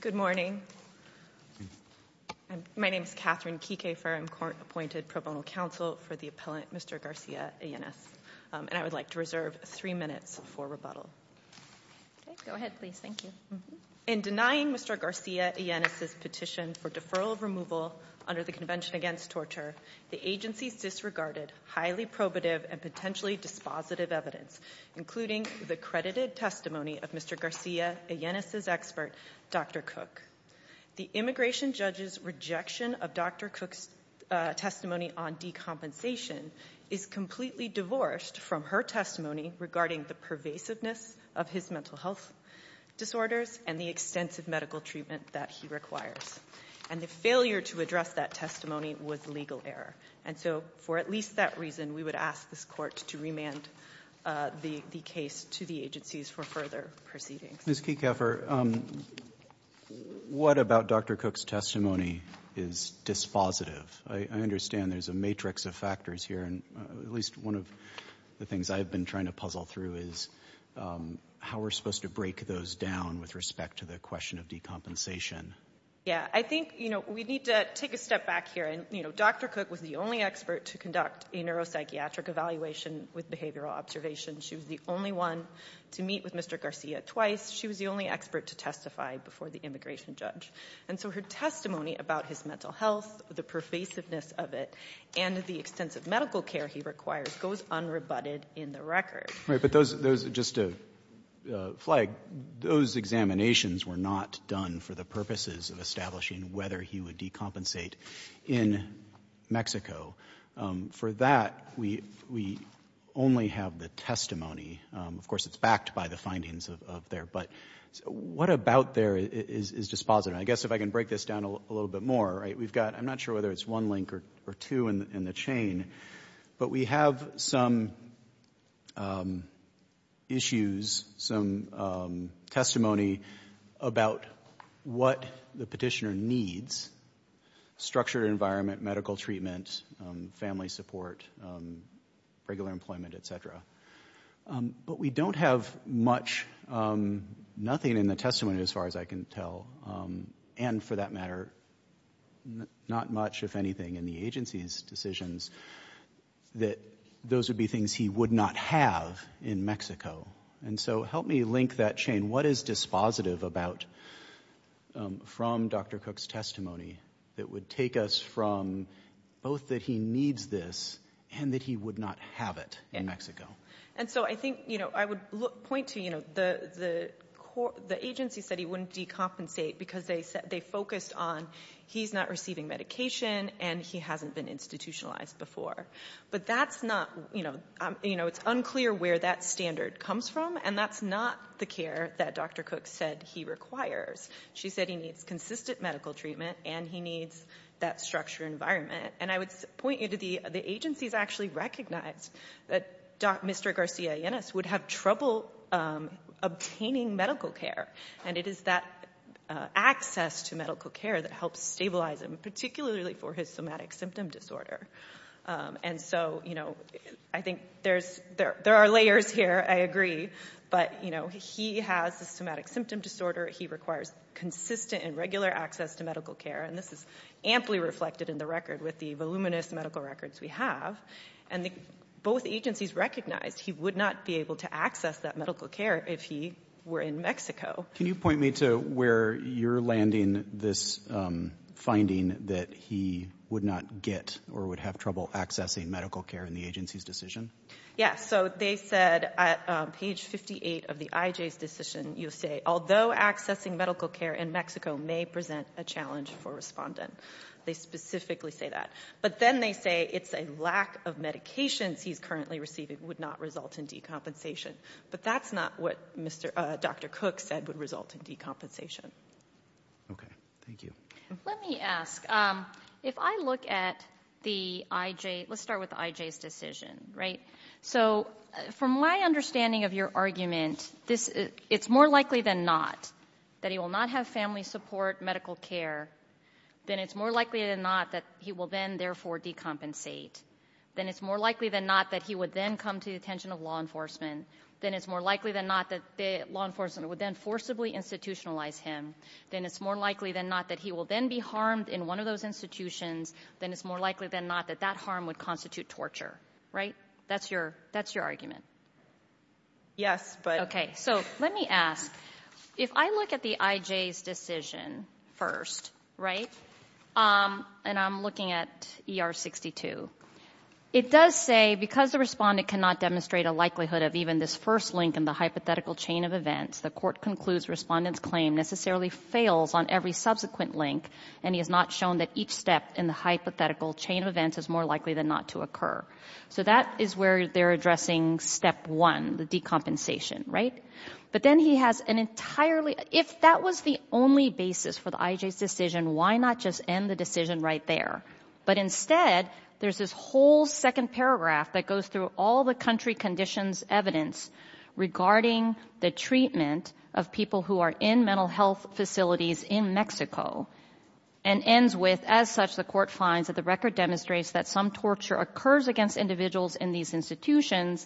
Good morning. My name is Catherine Kikefer. I'm court-appointed pro bono counsel for the appellant Mr. Garcia-Illenes, and I would like to reserve three minutes for rebuttal. In denying Mr. Garcia-Illenes' petition for deferral of removal under the Convention Against Torture, the agency disregarded highly probative and potentially dispositive evidence, including the credited testimony of Mr. Garcia-Illenes' expert, Dr. Cook. The immigration judge's rejection of Dr. Cook's testimony on decompensation is completely divorced from her testimony regarding the pervasiveness of his mental health disorders and the extensive medical treatment that he requires, and the failure to address that testimony was legal error. And so for at least that reason, we would ask this court to remand the case to the agencies for further proceedings. Ms. Kikefer, what about Dr. Cook's testimony is dispositive? I understand there's a matrix of factors here, and at least one of the things I've been trying to puzzle through is how we're supposed to break those down with respect to the question of decompensation. Yeah, I think, you know, we need to take a step back here, and, you know, Dr. Cook was the only expert to conduct a neuropsychiatric evaluation with behavioral observation. She was the only one to meet with Mr. Garcia twice. She was the only expert to testify before the immigration judge. And so her testimony about his mental health, the pervasiveness of it, and the extensive medical care he requires goes unrebutted in the record. Right. But those are just a flag. Those examinations were not done for the purposes of establishing whether he would decompensate in Mexico. For that, we only have the testimony. Of course, it's backed by the findings of there, but what about there is dispositive? I guess if I can break this down a little bit more, right, we've got, I'm not sure whether it's one link or two in the chain, but we have some issues, some testimony about what the petitioner needs, structured environment, medical treatment, family support, regular employment, et cetera. But we don't have much, nothing in the testimony as far as I can tell, and for that matter, not much, if anything, in the agency's decisions that those would be things he would not have in Mexico. And so help me link that chain. What is dispositive about, from Dr. Cook's testimony, that would take us from both that he needs this and that he would not have it in Mexico? And so I think, you know, I would point to, you know, the agency said he wouldn't decompensate because they focused on he's not receiving medication and he hasn't been institutionalized before. But that's not, you know, it's unclear where that standard comes from, and that's not the care that Dr. Cook said he requires. She said he needs consistent medical treatment and he needs that structured environment. And I would point you to the agency's actually recognized that Mr. Garcia-Yenes would have trouble obtaining medical care, and it is that access to medical care that helps stabilize him, particularly for his somatic symptom disorder. And so, you know, I think there are layers here, I agree, but, you know, he has a somatic symptom disorder, he requires consistent and regular access to medical care, and this is amply reflected in the record with the voluminous medical records we have. And both agencies recognized he would not be able to access that medical care if he were in Mexico. Can you point me to where you're landing this finding that he would not get or would have trouble accessing medical care in the agency's decision? Yes, so they said at page 58 of the IJ's decision, you'll say, although accessing medical care in Mexico may present a challenge for respondent. They specifically say that. But then they say it's a lack of medications he's currently receiving would not result in decompensation. But that's not what Dr. Cook said would result in decompensation. Okay, thank you. Let me ask, if I look at the IJ, let's start with the IJ's decision, right? So from my understanding of your argument, it's more likely than not that he will not have family support medical care, then it's more likely than not that he will then, therefore, decompensate. Then it's more likely than not that he would then come to the attention of law enforcement. Then it's more likely than not that law enforcement would then forcibly institutionalize him. Then it's more likely than not that he will then be harmed in one of those institutions. Then it's more likely than not that that harm would constitute torture, right? That's your argument. Yes, but Okay, so let me ask, if I look at the IJ's decision first, right? And I'm looking at DR-62, it does say, because the respondent cannot demonstrate a likelihood of even this first link in the hypothetical chain of events, the court concludes respondent's claim necessarily fails on every subsequent link, and he has not shown that each step in the hypothetical chain of events is more likely than not to occur. So that is where they're addressing step one, the decompensation, right? But then he has an entirely, if that was the only basis for the IJ's decision, why not just end the decision right there? But instead, there's this whole second paragraph that goes through all the country conditions evidence regarding the treatment of people who are in mental health facilities in Mexico, and ends with, as such, the court finds that the record demonstrates that some torture occurs against individuals in these institutions.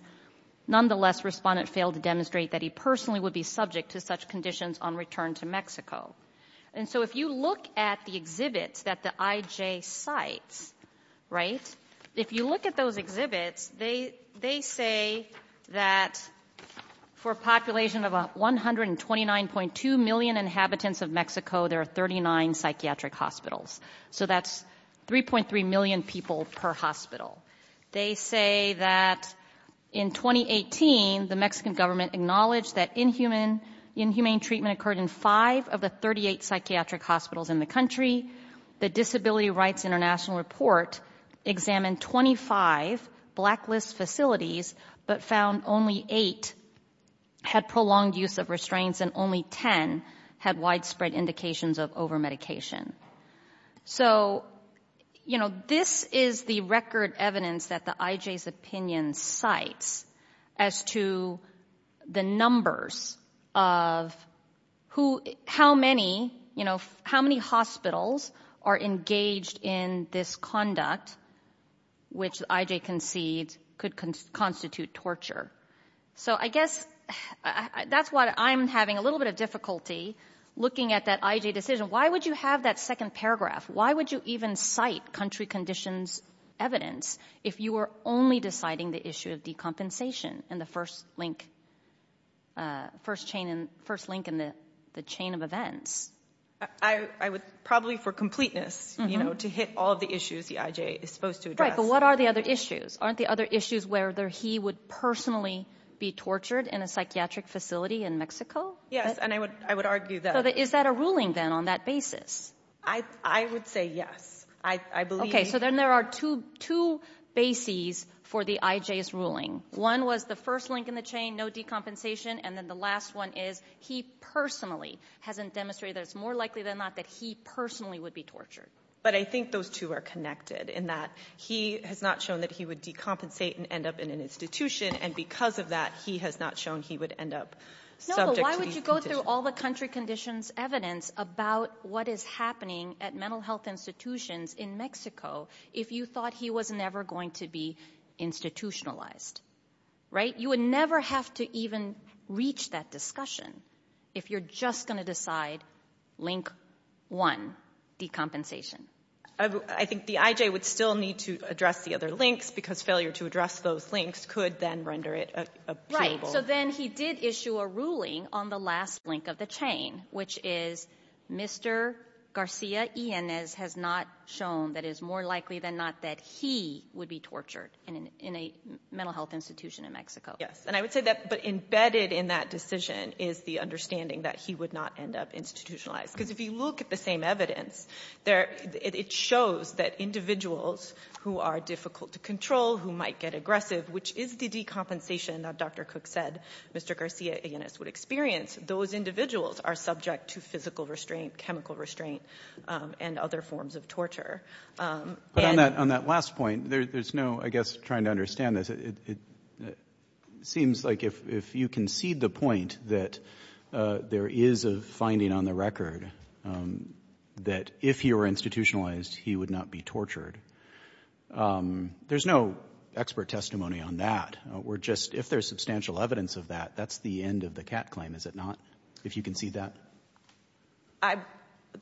Nonetheless, respondent failed to demonstrate that he personally would be subject to such conditions on return to Mexico. And so if you look at the exhibits that the IJ cites, right, if you look at those exhibits, they say that for a population of 129.2 million inhabitants of Mexico, there are 39 psychiatric hospitals. So that's 3.3 million people per hospital. They say that in 2018, the Mexican government acknowledged that inhumane treatment occurred in five of the 38 psychiatric hospitals in the country. The Disability Rights International report examined 25 blacklist facilities, but found only eight had prolonged use of restraints, and only 10 had widespread indications of overmedication. So, you know, this is the record evidence that the IJ's opinion cites as to the numbers of who, how many, you know, how many hospitals are engaged in this conduct, which the IJ concedes could constitute torture. So I guess that's why I'm having a little bit of difficulty looking at that IJ decision. Why would you have that second paragraph? Why would you even cite country conditions evidence if you were only deciding the issue of decompensation in the first link, first chain, first link in the chain of events? I would, probably for completeness, you know, to hit all of the issues the IJ is supposed to address. Right, but what are the other issues? Aren't the other issues where he would personally be tortured in a psychiatric facility in Mexico? Yes, and I would argue that... Is that a ruling then on that basis? I would say yes. I believe... So then there are two bases for the IJ's ruling. One was the first link in the chain, no decompensation, and then the last one is he personally hasn't demonstrated that it's more likely than not that he personally would be tortured. But I think those two are connected in that he has not shown that he would decompensate and end up in an institution, and because of that, he has not shown he would end up subject to... No, but why would you go through all the country conditions evidence about what is happening at mental health institutions in Mexico if you thought he was never going to be institutionalized? Right? You would never have to even reach that discussion if you're just going to decide link one, decompensation. I think the IJ would still need to address the other links because failure to address those links could then render it a... Right, so then he did issue a ruling on the last link of the chain, which is Mr. Garcia Yanez has not shown that it is more likely than not that he would be tortured in a mental health institution in Mexico. Yes, and I would say that embedded in that decision is the understanding that he would not end up institutionalized because if you look at the same evidence, it shows that individuals who are difficult to control, who might get aggressive, which is the decompensation that Dr. Cook said Mr. Garcia Yanez would experience, those individuals are subject to physical restraint, chemical restraint, and other forms of torture. On that last point, there's no, I guess, trying to understand this. It seems like if you concede the point that there is a finding on the record that if he were institutionalized he would not be tortured, there's no expert testimony on that. We're just, if there's substantial evidence of that, that's the end of the cat claim, is it not, if you concede that?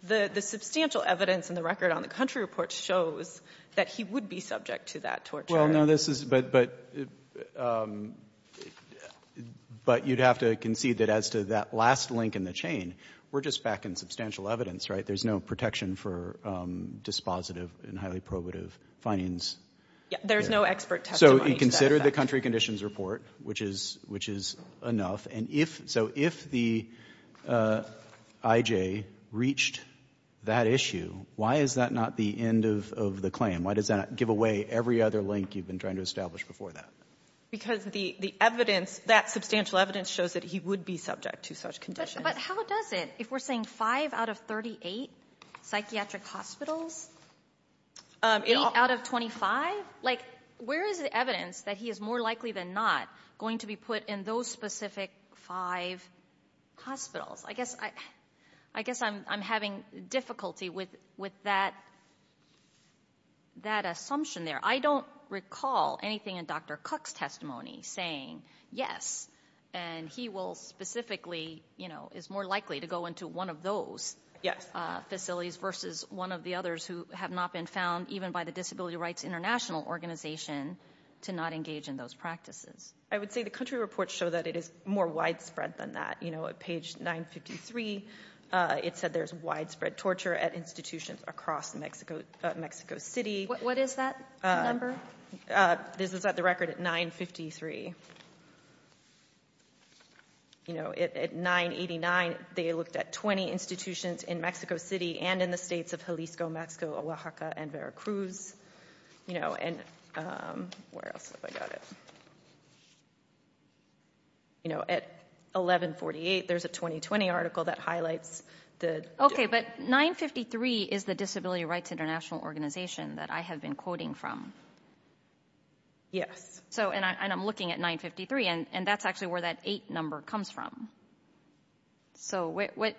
The substantial evidence in the record on the country report shows that he would be subject to that torture. Well, no, this is, but you'd have to concede that as to that last link in the chain, we're just back in substantial evidence, right? There's no protection for dispositive and highly probative findings. There's no expert testimony to that. So you consider the country conditions report, which is enough, and if, so if the IJ reached that issue, why is that not the end of the claim? Why does that not give away every other link you've been trying to establish before that? Because the evidence, that substantial evidence shows that he would be subject to such conditions. But how does it, if we're saying 5 out of 38 psychiatric hospitals, 8 out of 25, like where is the evidence that he is more likely than not going to be put in those specific five hospitals? I guess I'm having difficulty with that assumption there. I don't recall anything in Dr. Cook's testimony saying, yes, and he will specifically, you know, is more likely to go into one of those facilities versus one of the others who have not been found, even by the Disability Rights International organization, to not engage in those practices. I would say the country reports show that it is more widespread than that. You know, at page 953, it said there's widespread torture at institutions across Mexico City. What is that number? This is at the record at 953. You know, at 989, they looked at 20 institutions in Mexico City, like Veracruz, you know, and where else have I got it? You know, at 1148, there's a 2020 article that highlights the... Okay, but 953 is the Disability Rights International organization that I have been quoting from. Yes. So and I'm looking at 953, and that's actually where that 8 number comes from. So what,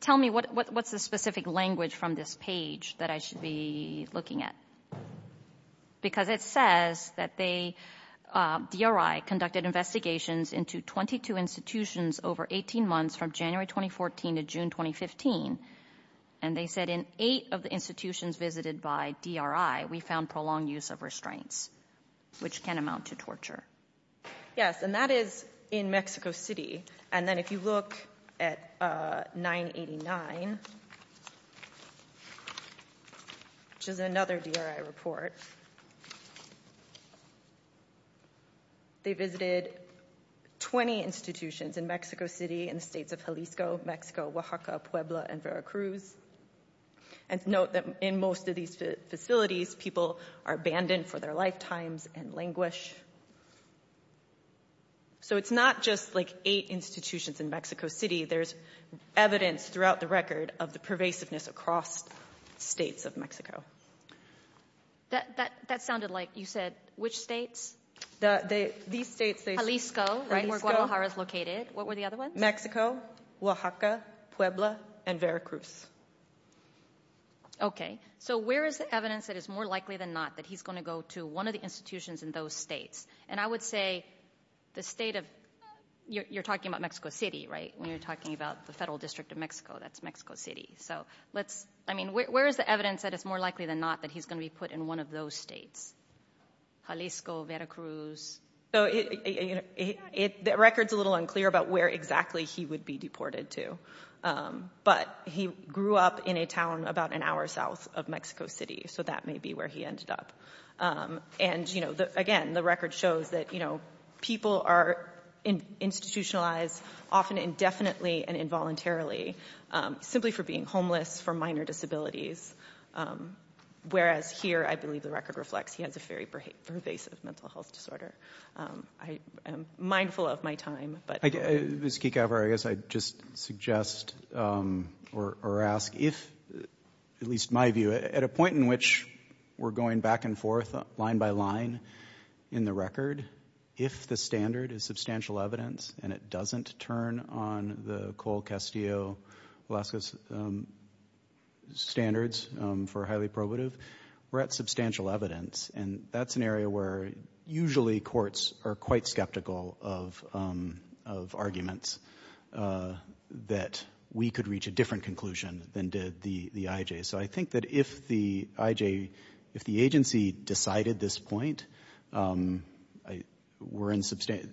tell me what's the specific language from this page that I should be looking at? Because it says that they, DRI, conducted investigations into 22 institutions over 18 months from January 2014 to June 2015, and they said in eight of the institutions visited by DRI, we found prolonged use of restraints, which can amount to torture. Yes, and that is in Mexico City. And then if you look at 989, which is another DRI report, they visited 20 institutions in Mexico City in the states of Jalisco, Mexico, Oaxaca, Puebla, and Veracruz. And note that in most of these facilities, people are abandoned for their lifetimes and languish. So it's not just like eight institutions in Mexico City, there's evidence throughout the record of the pervasiveness across states of Mexico. That sounded like you said, which states? These states. Jalisco, right, where Guadalajara is located. What were the other ones? Mexico, Oaxaca, Puebla, and Veracruz. Okay, so where is the evidence that it's more likely than not that he's going to go to one of the institutions in those states? And I would say the state of, you're talking about Mexico City, right? When you're talking about the federal district of Mexico, that's Mexico City. So let's, I mean, where is the evidence that it's more likely than not that he's going to be put in one of those states? Jalisco, Veracruz? So it, the record's a little unclear about where exactly he would be deported to, but he grew up in a town about an hour south of Mexico City, so that may be where he ended up. And, you know, again, the record shows that, you know, people are institutionalized often indefinitely and involuntarily simply for being homeless, for minor disabilities, whereas here I believe the record reflects he has a very pervasive mental health disorder. I am mindful of my time, but... Ms. Kekavar, I guess I'd just suggest or ask if, at least my view, at a point in which we're going back and forth line by line in the record, if the standard is substantial evidence and it doesn't turn on the Cole, Castillo, Velasquez standards for highly probative, we're at substantial evidence, and that's an area where usually courts are quite skeptical of arguments that we could reach a different conclusion than did the IJs. So I think that if the IJ, if the agency decided this point, we're in substantial,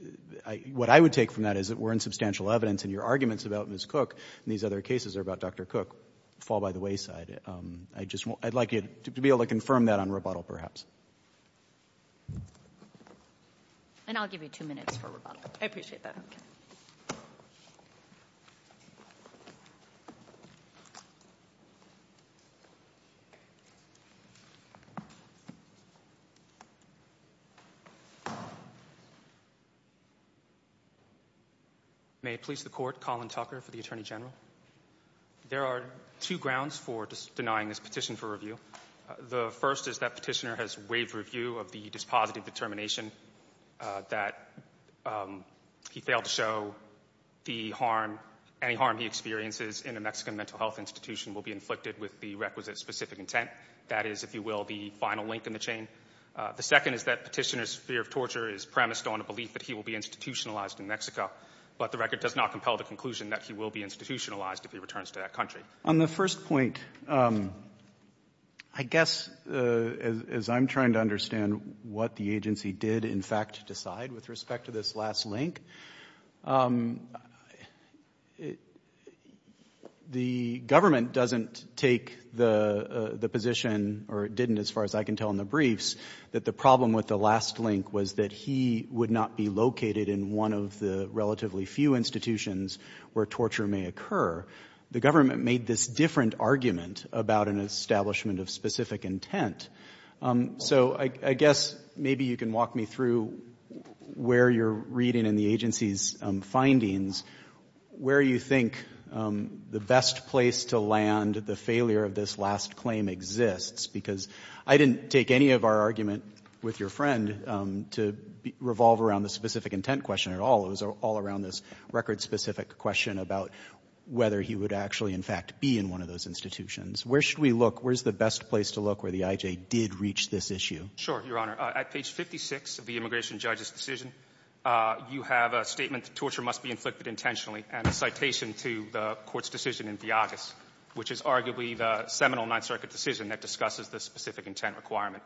what I would take from that is that we're in substantial evidence and your arguments about Ms. Cook and these other cases are about Dr. Cook fall by the wayside. I just, I'd like you to be able to confirm that on rebuttal perhaps. And I'll give you two minutes for rebuttal. I appreciate that. May it please the Court, Colin Tucker for the Attorney General. There are two grounds for denying this petition for review. The first is that Petitioner has waived review of the dispositive determination that he failed to show the harm, any harm he experiences in a Mexican mental health institution will be inflicted with the requisite specific intent. That is, if you will, the final link in the chain. The second is that Petitioner's fear of torture is premised on a belief that he will be institutionalized in Mexico, but the record does not compel the conclusion that he will be institutionalized if he returns to that country. On the first point, I guess as I'm trying to understand what the agency did in fact decide with respect to this last link, the government doesn't take the position, or it didn't as far as I can tell in the briefs, that the problem with the last link was that he would not be located in one of the relatively few institutions where torture may occur. The government made this different argument about an establishment of specific intent. So I guess maybe you can walk me through where you're reading in the agency's findings where you think the best place to land the failure of this last claim exists, because I didn't take any of our argument with your friend to revolve around the specific intent question at all. It was all around this record-specific question about whether he would actually, in fact, be in one of those institutions. Where should we look? Where's the best place to look where the IJ did reach this issue? Martinez, Jr. Sure, Your Honor. At page 56 of the immigration judge's decision, you have a statement that torture must be inflicted intentionally and a citation to the Court's decision in Theotis, which is arguably the seminal Ninth Circuit decision that discusses the specific intent requirement.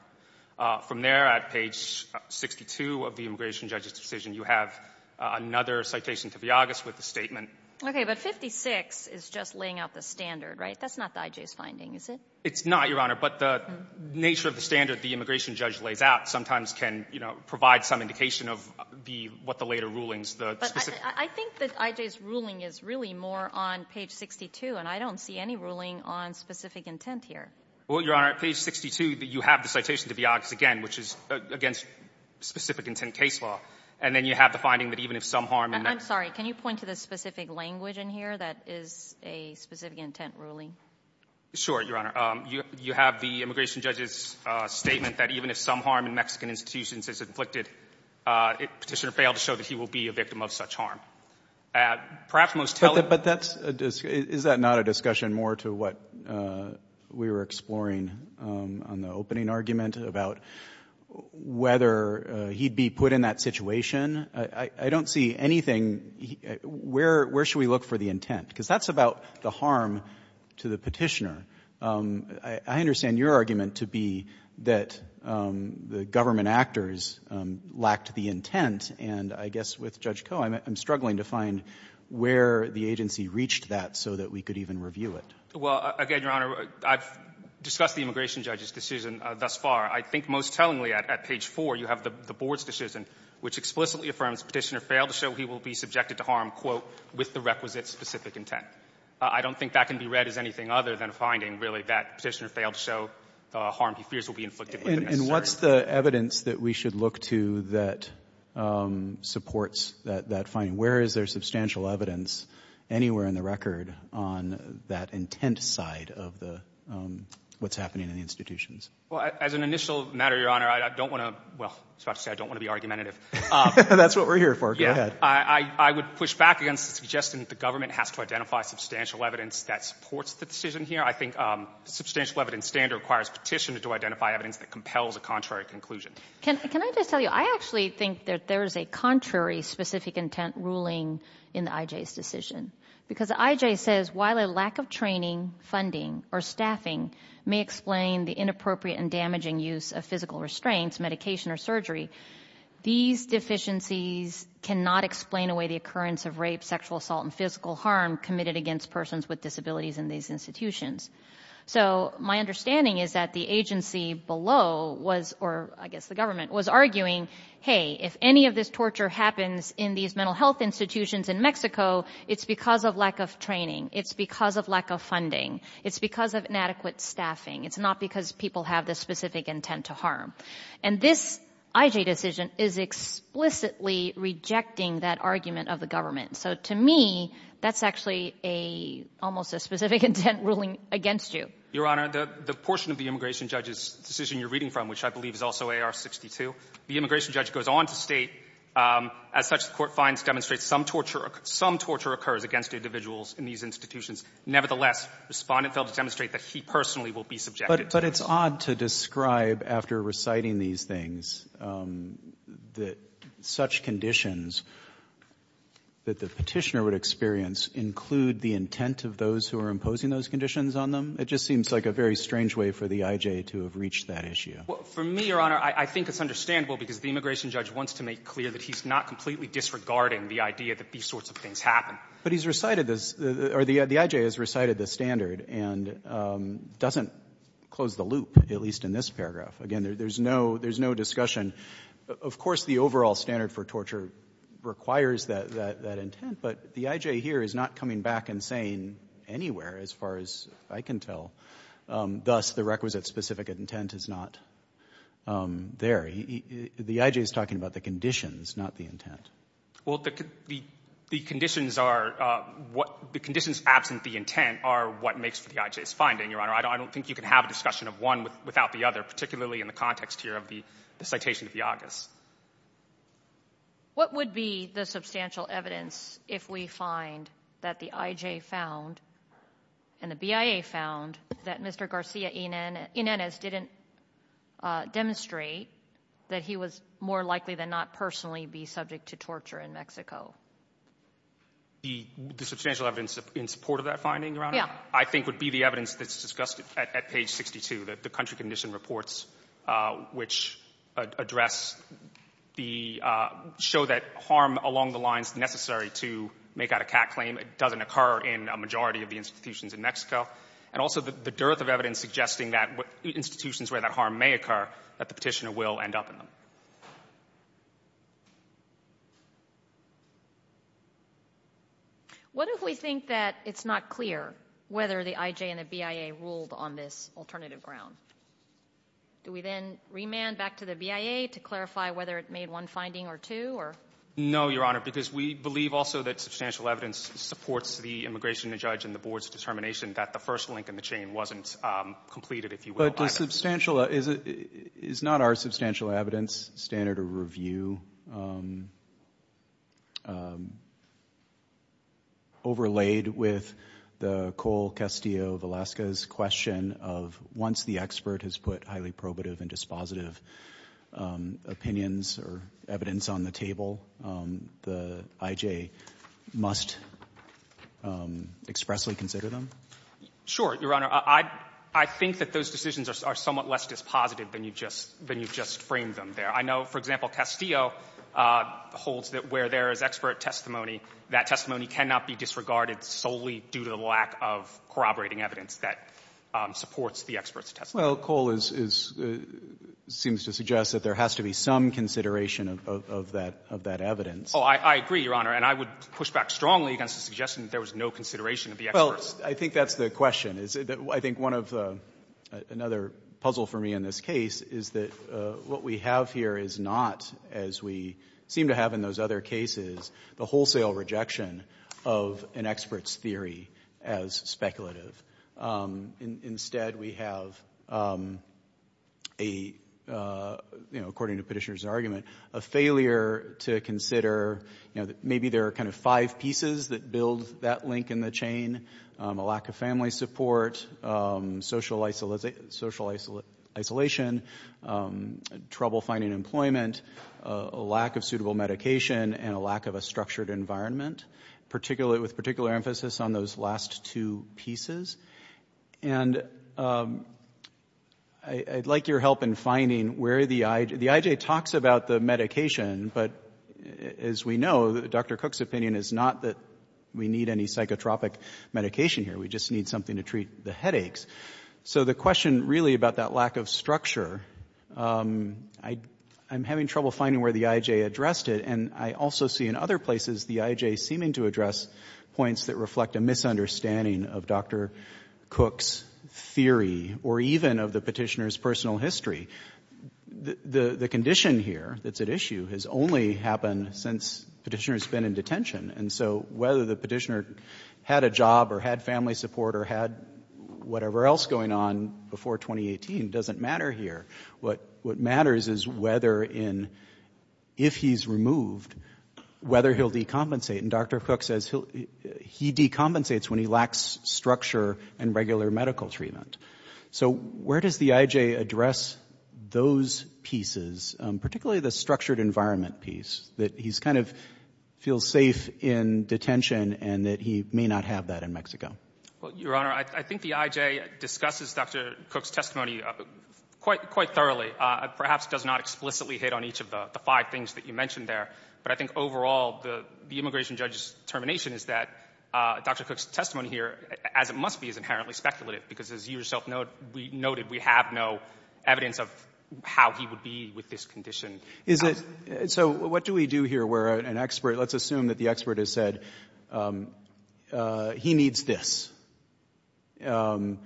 From there, at page 62 of the immigration judge's decision, you have another citation to Theotis with a statement. Okay. But 56 is just laying out the standard, right? That's not the IJ's finding, is it? It's not, Your Honor, but the nature of the standard the immigration judge lays out sometimes can, you know, provide some indication of the what the later rulings the specific But I think that IJ's ruling is really more on page 62, and I don't see any ruling on specific intent here. Well, Your Honor, at page 62, you have the citation to Theotis again, which is against specific intent case law, and then you have the finding that even if some harm in I'm sorry. Can you point to the specific language in here that is a specific intent ruling? Sure, Your Honor. You have the immigration judge's statement that even if some harm in Mexican institutions is inflicted, Petitioner failed to show that he will be a victim of such harm. Perhaps most telling But that's a, is that not a discussion more to what we were exploring on the opening argument about whether he'd be put in that situation? I don't see anything. Where should we look for the intent? Because that's about the harm to the Petitioner. I understand your argument to be that the government actors lacked the intent, and I guess with Judge Koh, I'm struggling to find where the agency reached that so that we could even review it. Well, again, Your Honor, I've discussed the immigration judge's decision thus far. I think most tellingly at page 4, you have the Board's decision, which explicitly affirms Petitioner failed to show he will be subjected to harm, quote, with the requisite specific intent. I don't think that can be read as anything other than a finding, really, that Petitioner failed to show the harm he fears will be inflicted. And what's the evidence that we should look to that supports that finding? Where is there substantial evidence anywhere in the record on that intent side of the what's happening in the institutions? Well, as an initial matter, Your Honor, I don't want to, well, I was about to say I don't want to be argumentative. That's what we're here for. Go ahead. I would push back against the suggestion that the government has to identify substantial evidence that supports the decision here. I think substantial evidence standard requires Petitioner to identify evidence that compels a contrary conclusion. Can I just tell you, I actually think that there is a contrary specific intent ruling in the IJ's decision. Because the IJ says, while a lack of training, funding, or staffing may explain the inappropriate and damaging use of physical restraints, medication, or surgery, these deficiencies cannot explain away the occurrence of rape, sexual assault, and physical harm committed against persons with disabilities in these institutions. So my understanding is that the agency below was, or I guess the government, was arguing, hey, if any of this torture happens in these mental health institutions in Mexico, it's because of lack of training. It's because of lack of funding. It's because of inadequate staffing. It's not because people have this specific intent to harm. And this IJ decision is explicitly rejecting that argument of the government. So to me, that's actually a, almost a specific intent ruling against you. Your Honor, the portion of the immigration judge's decision you're reading from, which I believe is also AR-62, the immigration judge goes on to state, as such, the court finds, demonstrates, some torture occurs against individuals in these institutions. Nevertheless, Respondent failed to demonstrate that he personally will be subjected to this. But it's odd to describe, after reciting these things, that such conditions that the Petitioner would experience include the intent of those who are imposing those conditions on them. It just seems like a very strange way for the IJ to have reached that issue. Well, for me, Your Honor, I think it's understandable because the immigration judge wants to make clear that he's not completely disregarding the idea that these sorts of things happen. But he's recited this, or the IJ has recited the standard and doesn't close the loop, at least in this paragraph. Again, there's no discussion. Of course, the overall standard for torture requires that intent. But the IJ here is not coming back and saying anywhere, as far as I can tell, thus the requisite specific intent is not there. The IJ is talking about the conditions, not the intent. Well, the conditions are what the conditions absent the intent are what makes for the IJ's finding, Your Honor. I don't think you can have a discussion of one without the other, particularly in the context here of the citation of Yagas. What would be the substantial evidence if we find that the IJ found and the BIA found that Mr. Garcia Ynenes didn't demonstrate that he was more likely than not personally be subject to torture in Mexico? The substantial evidence in support of that finding, Your Honor? Yeah. I think would be the evidence that's discussed at page 62, that the country condition reports which address the show that harm along the lines necessary to make out a cat claim doesn't occur in a majority of the institutions in Mexico. And also the dearth of evidence suggesting that institutions where that harm may occur, that the Petitioner will end up in them. What if we think that it's not clear whether the IJ and the BIA ruled on this alternative ground? Do we then remand back to the BIA to clarify whether it made one finding or two? No, Your Honor, because we believe also that substantial evidence supports the immigration judge and the board's determination that the first link in the chain wasn't completed, if you will. But is not our substantial evidence standard of review overlaid with the Cole Once the expert has put highly probative and dispositive opinions or evidence on the table, the IJ must expressly consider them? Sure, Your Honor. I think that those decisions are somewhat less dispositive than you just framed them there. I know, for example, Castillo holds that where there is expert testimony, that testimony cannot be disregarded solely due to the lack of corroborating evidence that supports the expert's testimony. Well, Cole seems to suggest that there has to be some consideration of that evidence. Oh, I agree, Your Honor. And I would push back strongly against the suggestion that there was no consideration of the experts. Well, I think that's the question. I think one of the other puzzles for me in this case is that what we have here is not, as we seem to have in those other cases, the wholesale rejection of an expert's theory as speculative. Instead, we have, according to Petitioner's argument, a failure to consider maybe there are kind of five pieces that build that link in the chain, a lack of family support, social isolation, trouble finding employment, a lack of suitable medication, and a lack of a structured environment, with particular emphasis on those last two pieces. And I'd like your help in finding where the IJ — the IJ talks about the medication, but as we know, Dr. Cook's opinion is not that we need any psychotropic medication here. We just need something to treat the headaches. So the question really about that lack of structure, I'm having trouble finding where the IJ addressed it, and I also see in other places the IJ seeming to address points that reflect a misunderstanding of Dr. Cook's theory or even of the Petitioner's personal history. The condition here that's at issue has only happened since Petitioner's been in And so whether the Petitioner had a job or had family support or had whatever else going on before 2018 doesn't matter here. What matters is whether in — if he's removed, whether he'll decompensate. And Dr. Cook says he decompensates when he lacks structure and regular medical treatment. So where does the IJ address those pieces, particularly the structured environment piece, that he's kind of — feels safe in detention and that he may not have that in Mexico? Well, Your Honor, I think the IJ discusses Dr. Cook's testimony quite thoroughly, perhaps does not explicitly hit on each of the five things that you mentioned there. But I think overall, the immigration judge's determination is that Dr. Cook's testimony here, as it must be, is inherently speculative, because as you yourself noted, we have no evidence of how he would be with this condition. Is it — so what do we do here where an expert — let's assume that the expert has said he needs this, and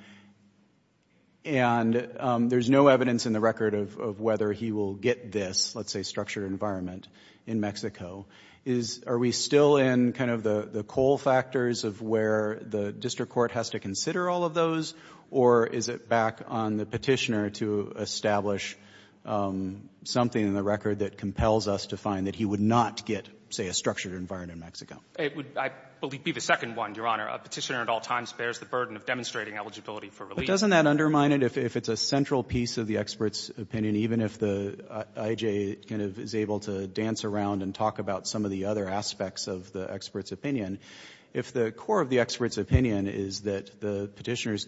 there's no evidence in the record of whether he will get this, let's say structured environment in Mexico, is — are we still in kind of the coal factors of where the district court has to consider all of those, or is it back on the Petitioner to establish something in the record that compels us to find that he would not get, say, a structured environment in Mexico? It would, I believe, be the second one, Your Honor. A Petitioner at all times bears the burden of demonstrating eligibility for release. But doesn't that undermine it? If it's a central piece of the expert's opinion, even if the I.J. kind of is able to dance around and talk about some of the other aspects of the expert's opinion, if the core of the expert's opinion is that the Petitioner's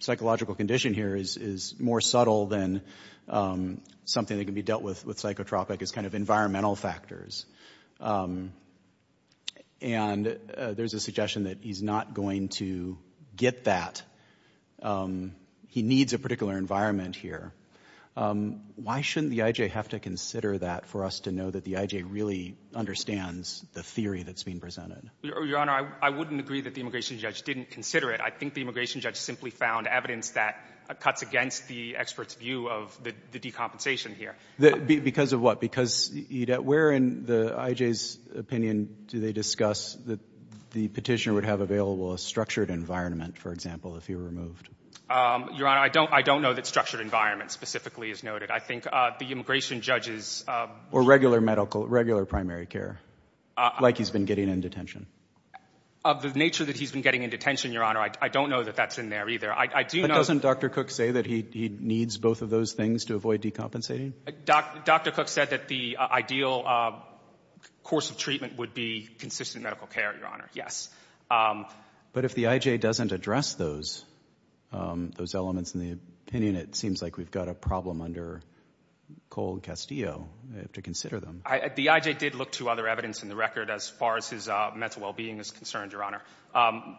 psychological condition here is more subtle than something that can be dealt with psychotropic as kind of environmental factors, and there's a suggestion that he's not going to get that, he needs a particular environment here, why shouldn't the I.J. have to consider that for us to know that the I.J. really understands the theory that's being presented? Your Honor, I wouldn't agree that the immigration judge didn't consider it. I think the immigration judge simply found evidence that cuts against the expert's view of the decompensation here. Because of what? Because, Edith, where in the I.J.'s opinion do they discuss that the Petitioner would have available a structured environment, for example, if he were removed? Your Honor, I don't know that structured environment specifically is noted. I think the immigration judge is – Or regular medical – regular primary care, like he's been getting in detention. Of the nature that he's been getting in detention, Your Honor, I don't know that that's in there either. I do know – But doesn't Dr. Cook say that he needs both of those things to avoid decompensating? Dr. Cook said that the ideal course of treatment would be consistent medical care, Your Honor, yes. But if the I.J. doesn't address those elements in the opinion, it seems like we've got a problem under Cole and Castillo to consider them. The I.J. did look to other evidence in the record as far as his mental well-being is concerned, Your Honor.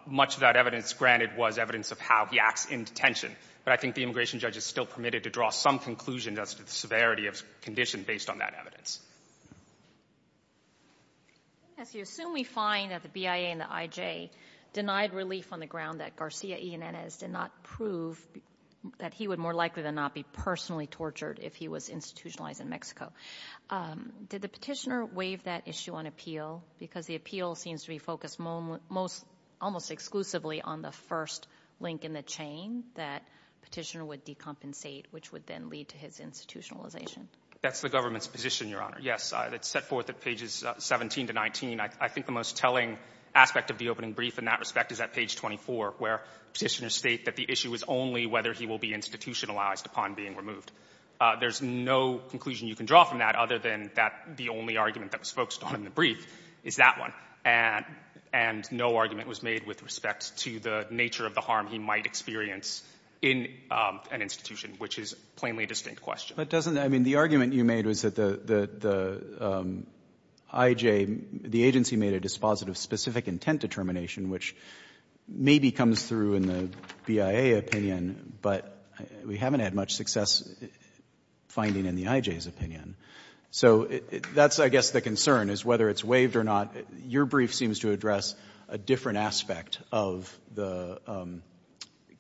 Much of that evidence, granted, was evidence of how he acts in detention. But I think the immigration judge is still permitted to draw some conclusion as to the severity of condition based on that evidence. Yes. You assume we find that the BIA and the I.J. denied relief on the ground that Garcia Yanez did not prove that he would more likely than not be personally tortured if he was institutionalized in Mexico. Did the petitioner waive that issue on appeal? Because the appeal seems to be focused almost exclusively on the first link in the chain that petitioner would decompensate, which would then lead to his institutionalization. That's the government's position, Your Honor, yes. It's set forth at pages 17 to 19. I think the most telling aspect of the opening brief in that respect is at page 24, where petitioners state that the issue is only whether he will be institutionalized upon being removed. There's no conclusion you can draw from that other than that the only argument that was focused on in the brief is that one, and no argument was made with respect to the nature of the harm he might experience in an institution, which is a plainly distinct question. But doesn't that mean the argument you made was that the I.J., the agency made a dispositive specific intent determination, which maybe comes through in the BIA opinion, but we haven't had much success finding in the I.J.'s opinion. So that's, I guess, the concern is whether it's waived or not. Your brief seems to address a different aspect of the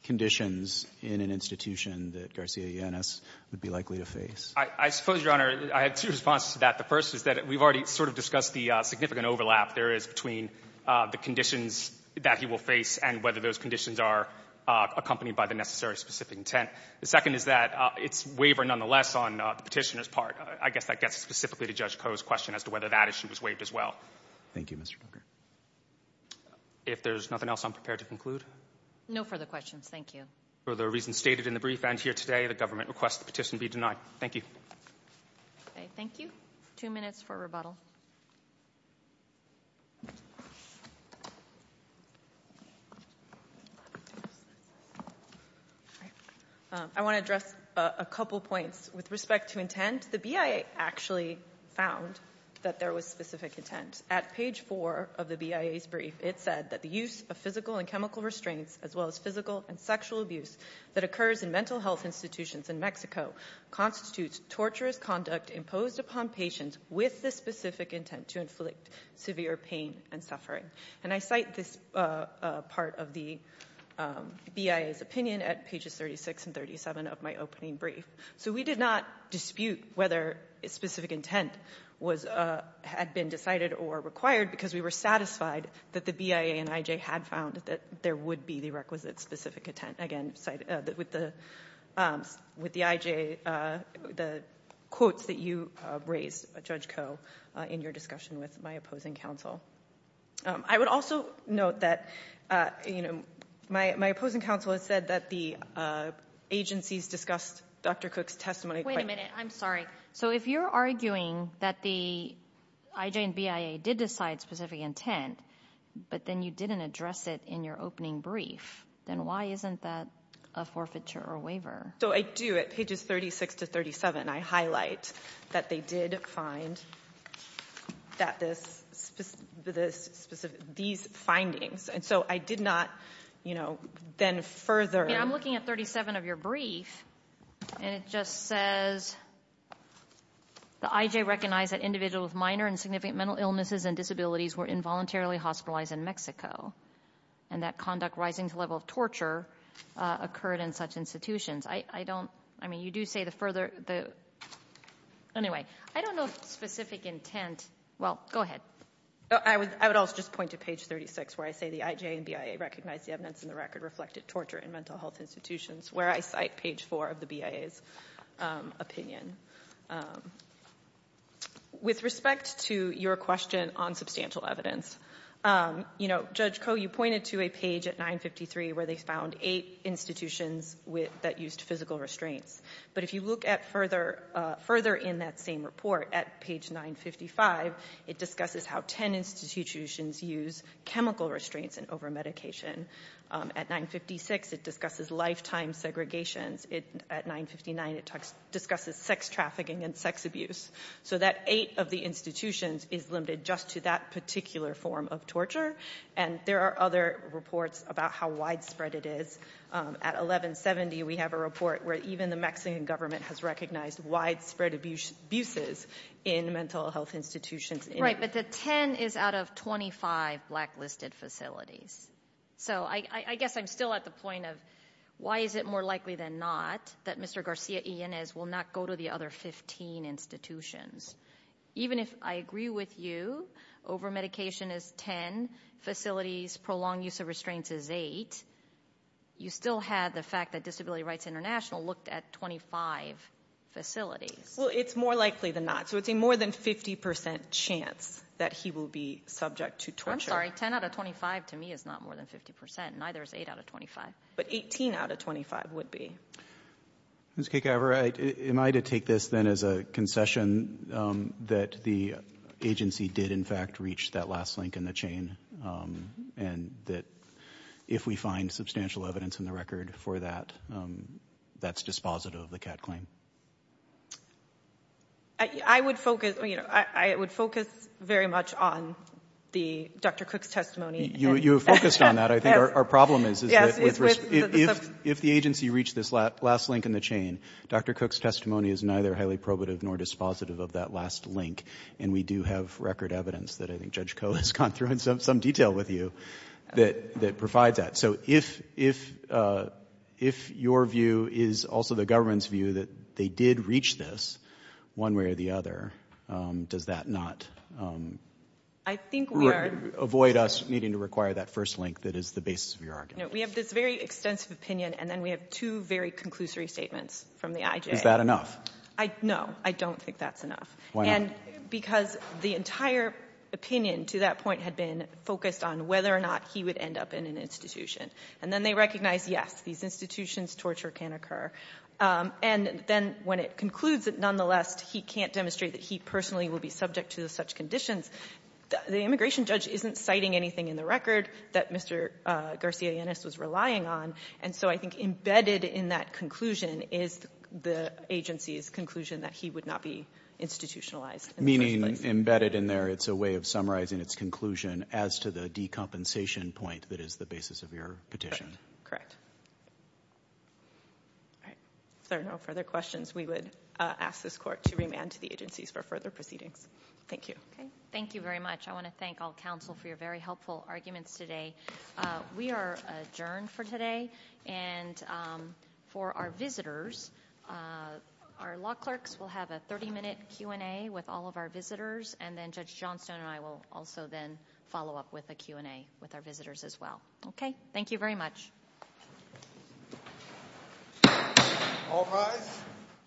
conditions in an institution that Garcia-Yanis would be likely to face. I suppose, Your Honor, I have two responses to that. The first is that we've already sort of discussed the significant overlap there is between the conditions that he will face and whether those conditions are accompanied by the necessary specific intent. The second is that it's waiver nonetheless on the petitioner's part. I guess that gets specifically to Judge Koh's question as to whether that issue is waived as well. Thank you, Mr. Tucker. If there's nothing else, I'm prepared to conclude. No further questions. Thank you. For the reasons stated in the brief and here today, the government requests the petition be denied. Thank you. Okay. Thank you. Two minutes for rebuttal. I want to address a couple points. With respect to intent, the BIA actually found that there was specific intent. At page 4 of the BIA's brief, it said that the use of physical and chemical restraints as well as physical and sexual abuse that occurs in mental health institutions in Mexico constitutes torturous conduct imposed upon patients with the specific intent to inflict severe pain and suffering. And I cite this part of the BIA's opinion at pages 36 and 37 of my opening brief. So we did not dispute whether specific intent had been decided or required because we were satisfied that the BIA and IJ had found that there would be the requisite specific intent. Again, with the IJ, the quotes that you raised, Judge Koh, in your discussion with my opposing counsel. I would also note that my opposing counsel has said that the agencies discussed Dr. Cook's testimony. Wait a minute. I'm sorry. So if you're arguing that the IJ and BIA did decide specific intent, but then you didn't address it in your opening brief, then why isn't that a forfeiture or waiver? So I do. At pages 36 to 37, I highlight that they did find that this specific, these findings. And so I did not, you know, then further. I'm looking at 37 of your brief and it just says the IJ recognized that individuals with minor and significant mental illnesses and disabilities were involuntarily hospitalized in Mexico and that conduct rising to the level of torture occurred in such institutions. I don't, I mean, you do say the further, the, anyway, I don't know if specific intent, well, go ahead. I would also just point to page 36 where I say the IJ and BIA recognized the evidence in the record reflected torture in mental health institutions, where I cite page 4 of the BIA's opinion. With respect to your question on substantial evidence, you know, Judge Koh, you pointed to a page at 953 where they found eight institutions with, that used physical restraints. But if you look at further, further in that same report at page 955, it discusses how 10 institutions use chemical restraints and over-medication. At 956, it discusses lifetime segregations. At 959, it discusses sex trafficking and sex abuse. So that eight of the institutions is limited just to that particular form of torture. And there are other reports about how widespread it is. At 1170, we have a report where even the Mexican government has recognized widespread abuses in mental health institutions. Right, but the 10 is out of 25 blacklisted facilities. So I guess I'm still at the point of why is it more likely than not that Mr. Garcia-Inez will not go to the other 15 institutions. Even if I agree with you, over-medication is 10, facilities, prolonged use of restraints is 8, you still have the fact that Disability Rights International looked at 25 facilities. Well, it's more likely than not. So it's a more than 50% chance that he will be subject to torture. I'm sorry, 10 out of 25 to me is not more than 50%. Neither is 8 out of 25. But 18 out of 25 would be. Ms. Kekavar, am I to take this then as a concession that the agency did in fact reach that last link in the chain and that if we find substantial evidence in the record for that, that's dispositive of the CAT claim? I would focus very much on Dr. Cook's testimony. You have focused on that. But I think our problem is if the agency reached this last link in the chain, Dr. Cook's testimony is neither highly probative nor dispositive of that last link, and we do have record evidence that I think Judge Koh has gone through in some detail with you that provides that. So if your view is also the government's view that they did reach this one way or the other, does that not avoid us needing to require that first link that is the basis of your argument? We have this very extensive opinion, and then we have two very conclusory statements from the IJ. Is that enough? No, I don't think that's enough. Why not? Because the entire opinion to that point had been focused on whether or not he would end up in an institution. And then they recognized, yes, these institutions, torture can occur. And then when it concludes that nonetheless he can't demonstrate that he personally will be subject to such conditions, the immigration judge isn't citing anything in the record that Mr. Garcianis was relying on. And so I think embedded in that conclusion is the agency's conclusion that he would not be institutionalized in the first place. Meaning embedded in there, it's a way of summarizing its conclusion as to the decompensation point that is the basis of your petition. Correct. All right. If there are no further questions, we would ask this court to remand to the agencies for further proceedings. Thank you. Okay. Thank you very much. I want to thank all counsel for your very helpful arguments today. We are adjourned for today. And for our visitors, our law clerks will have a 30-minute Q&A with all of our visitors, and then Judge Johnstone and I will also then follow up with a Q&A with our visitors as well. Okay. Thank you very much. All rise.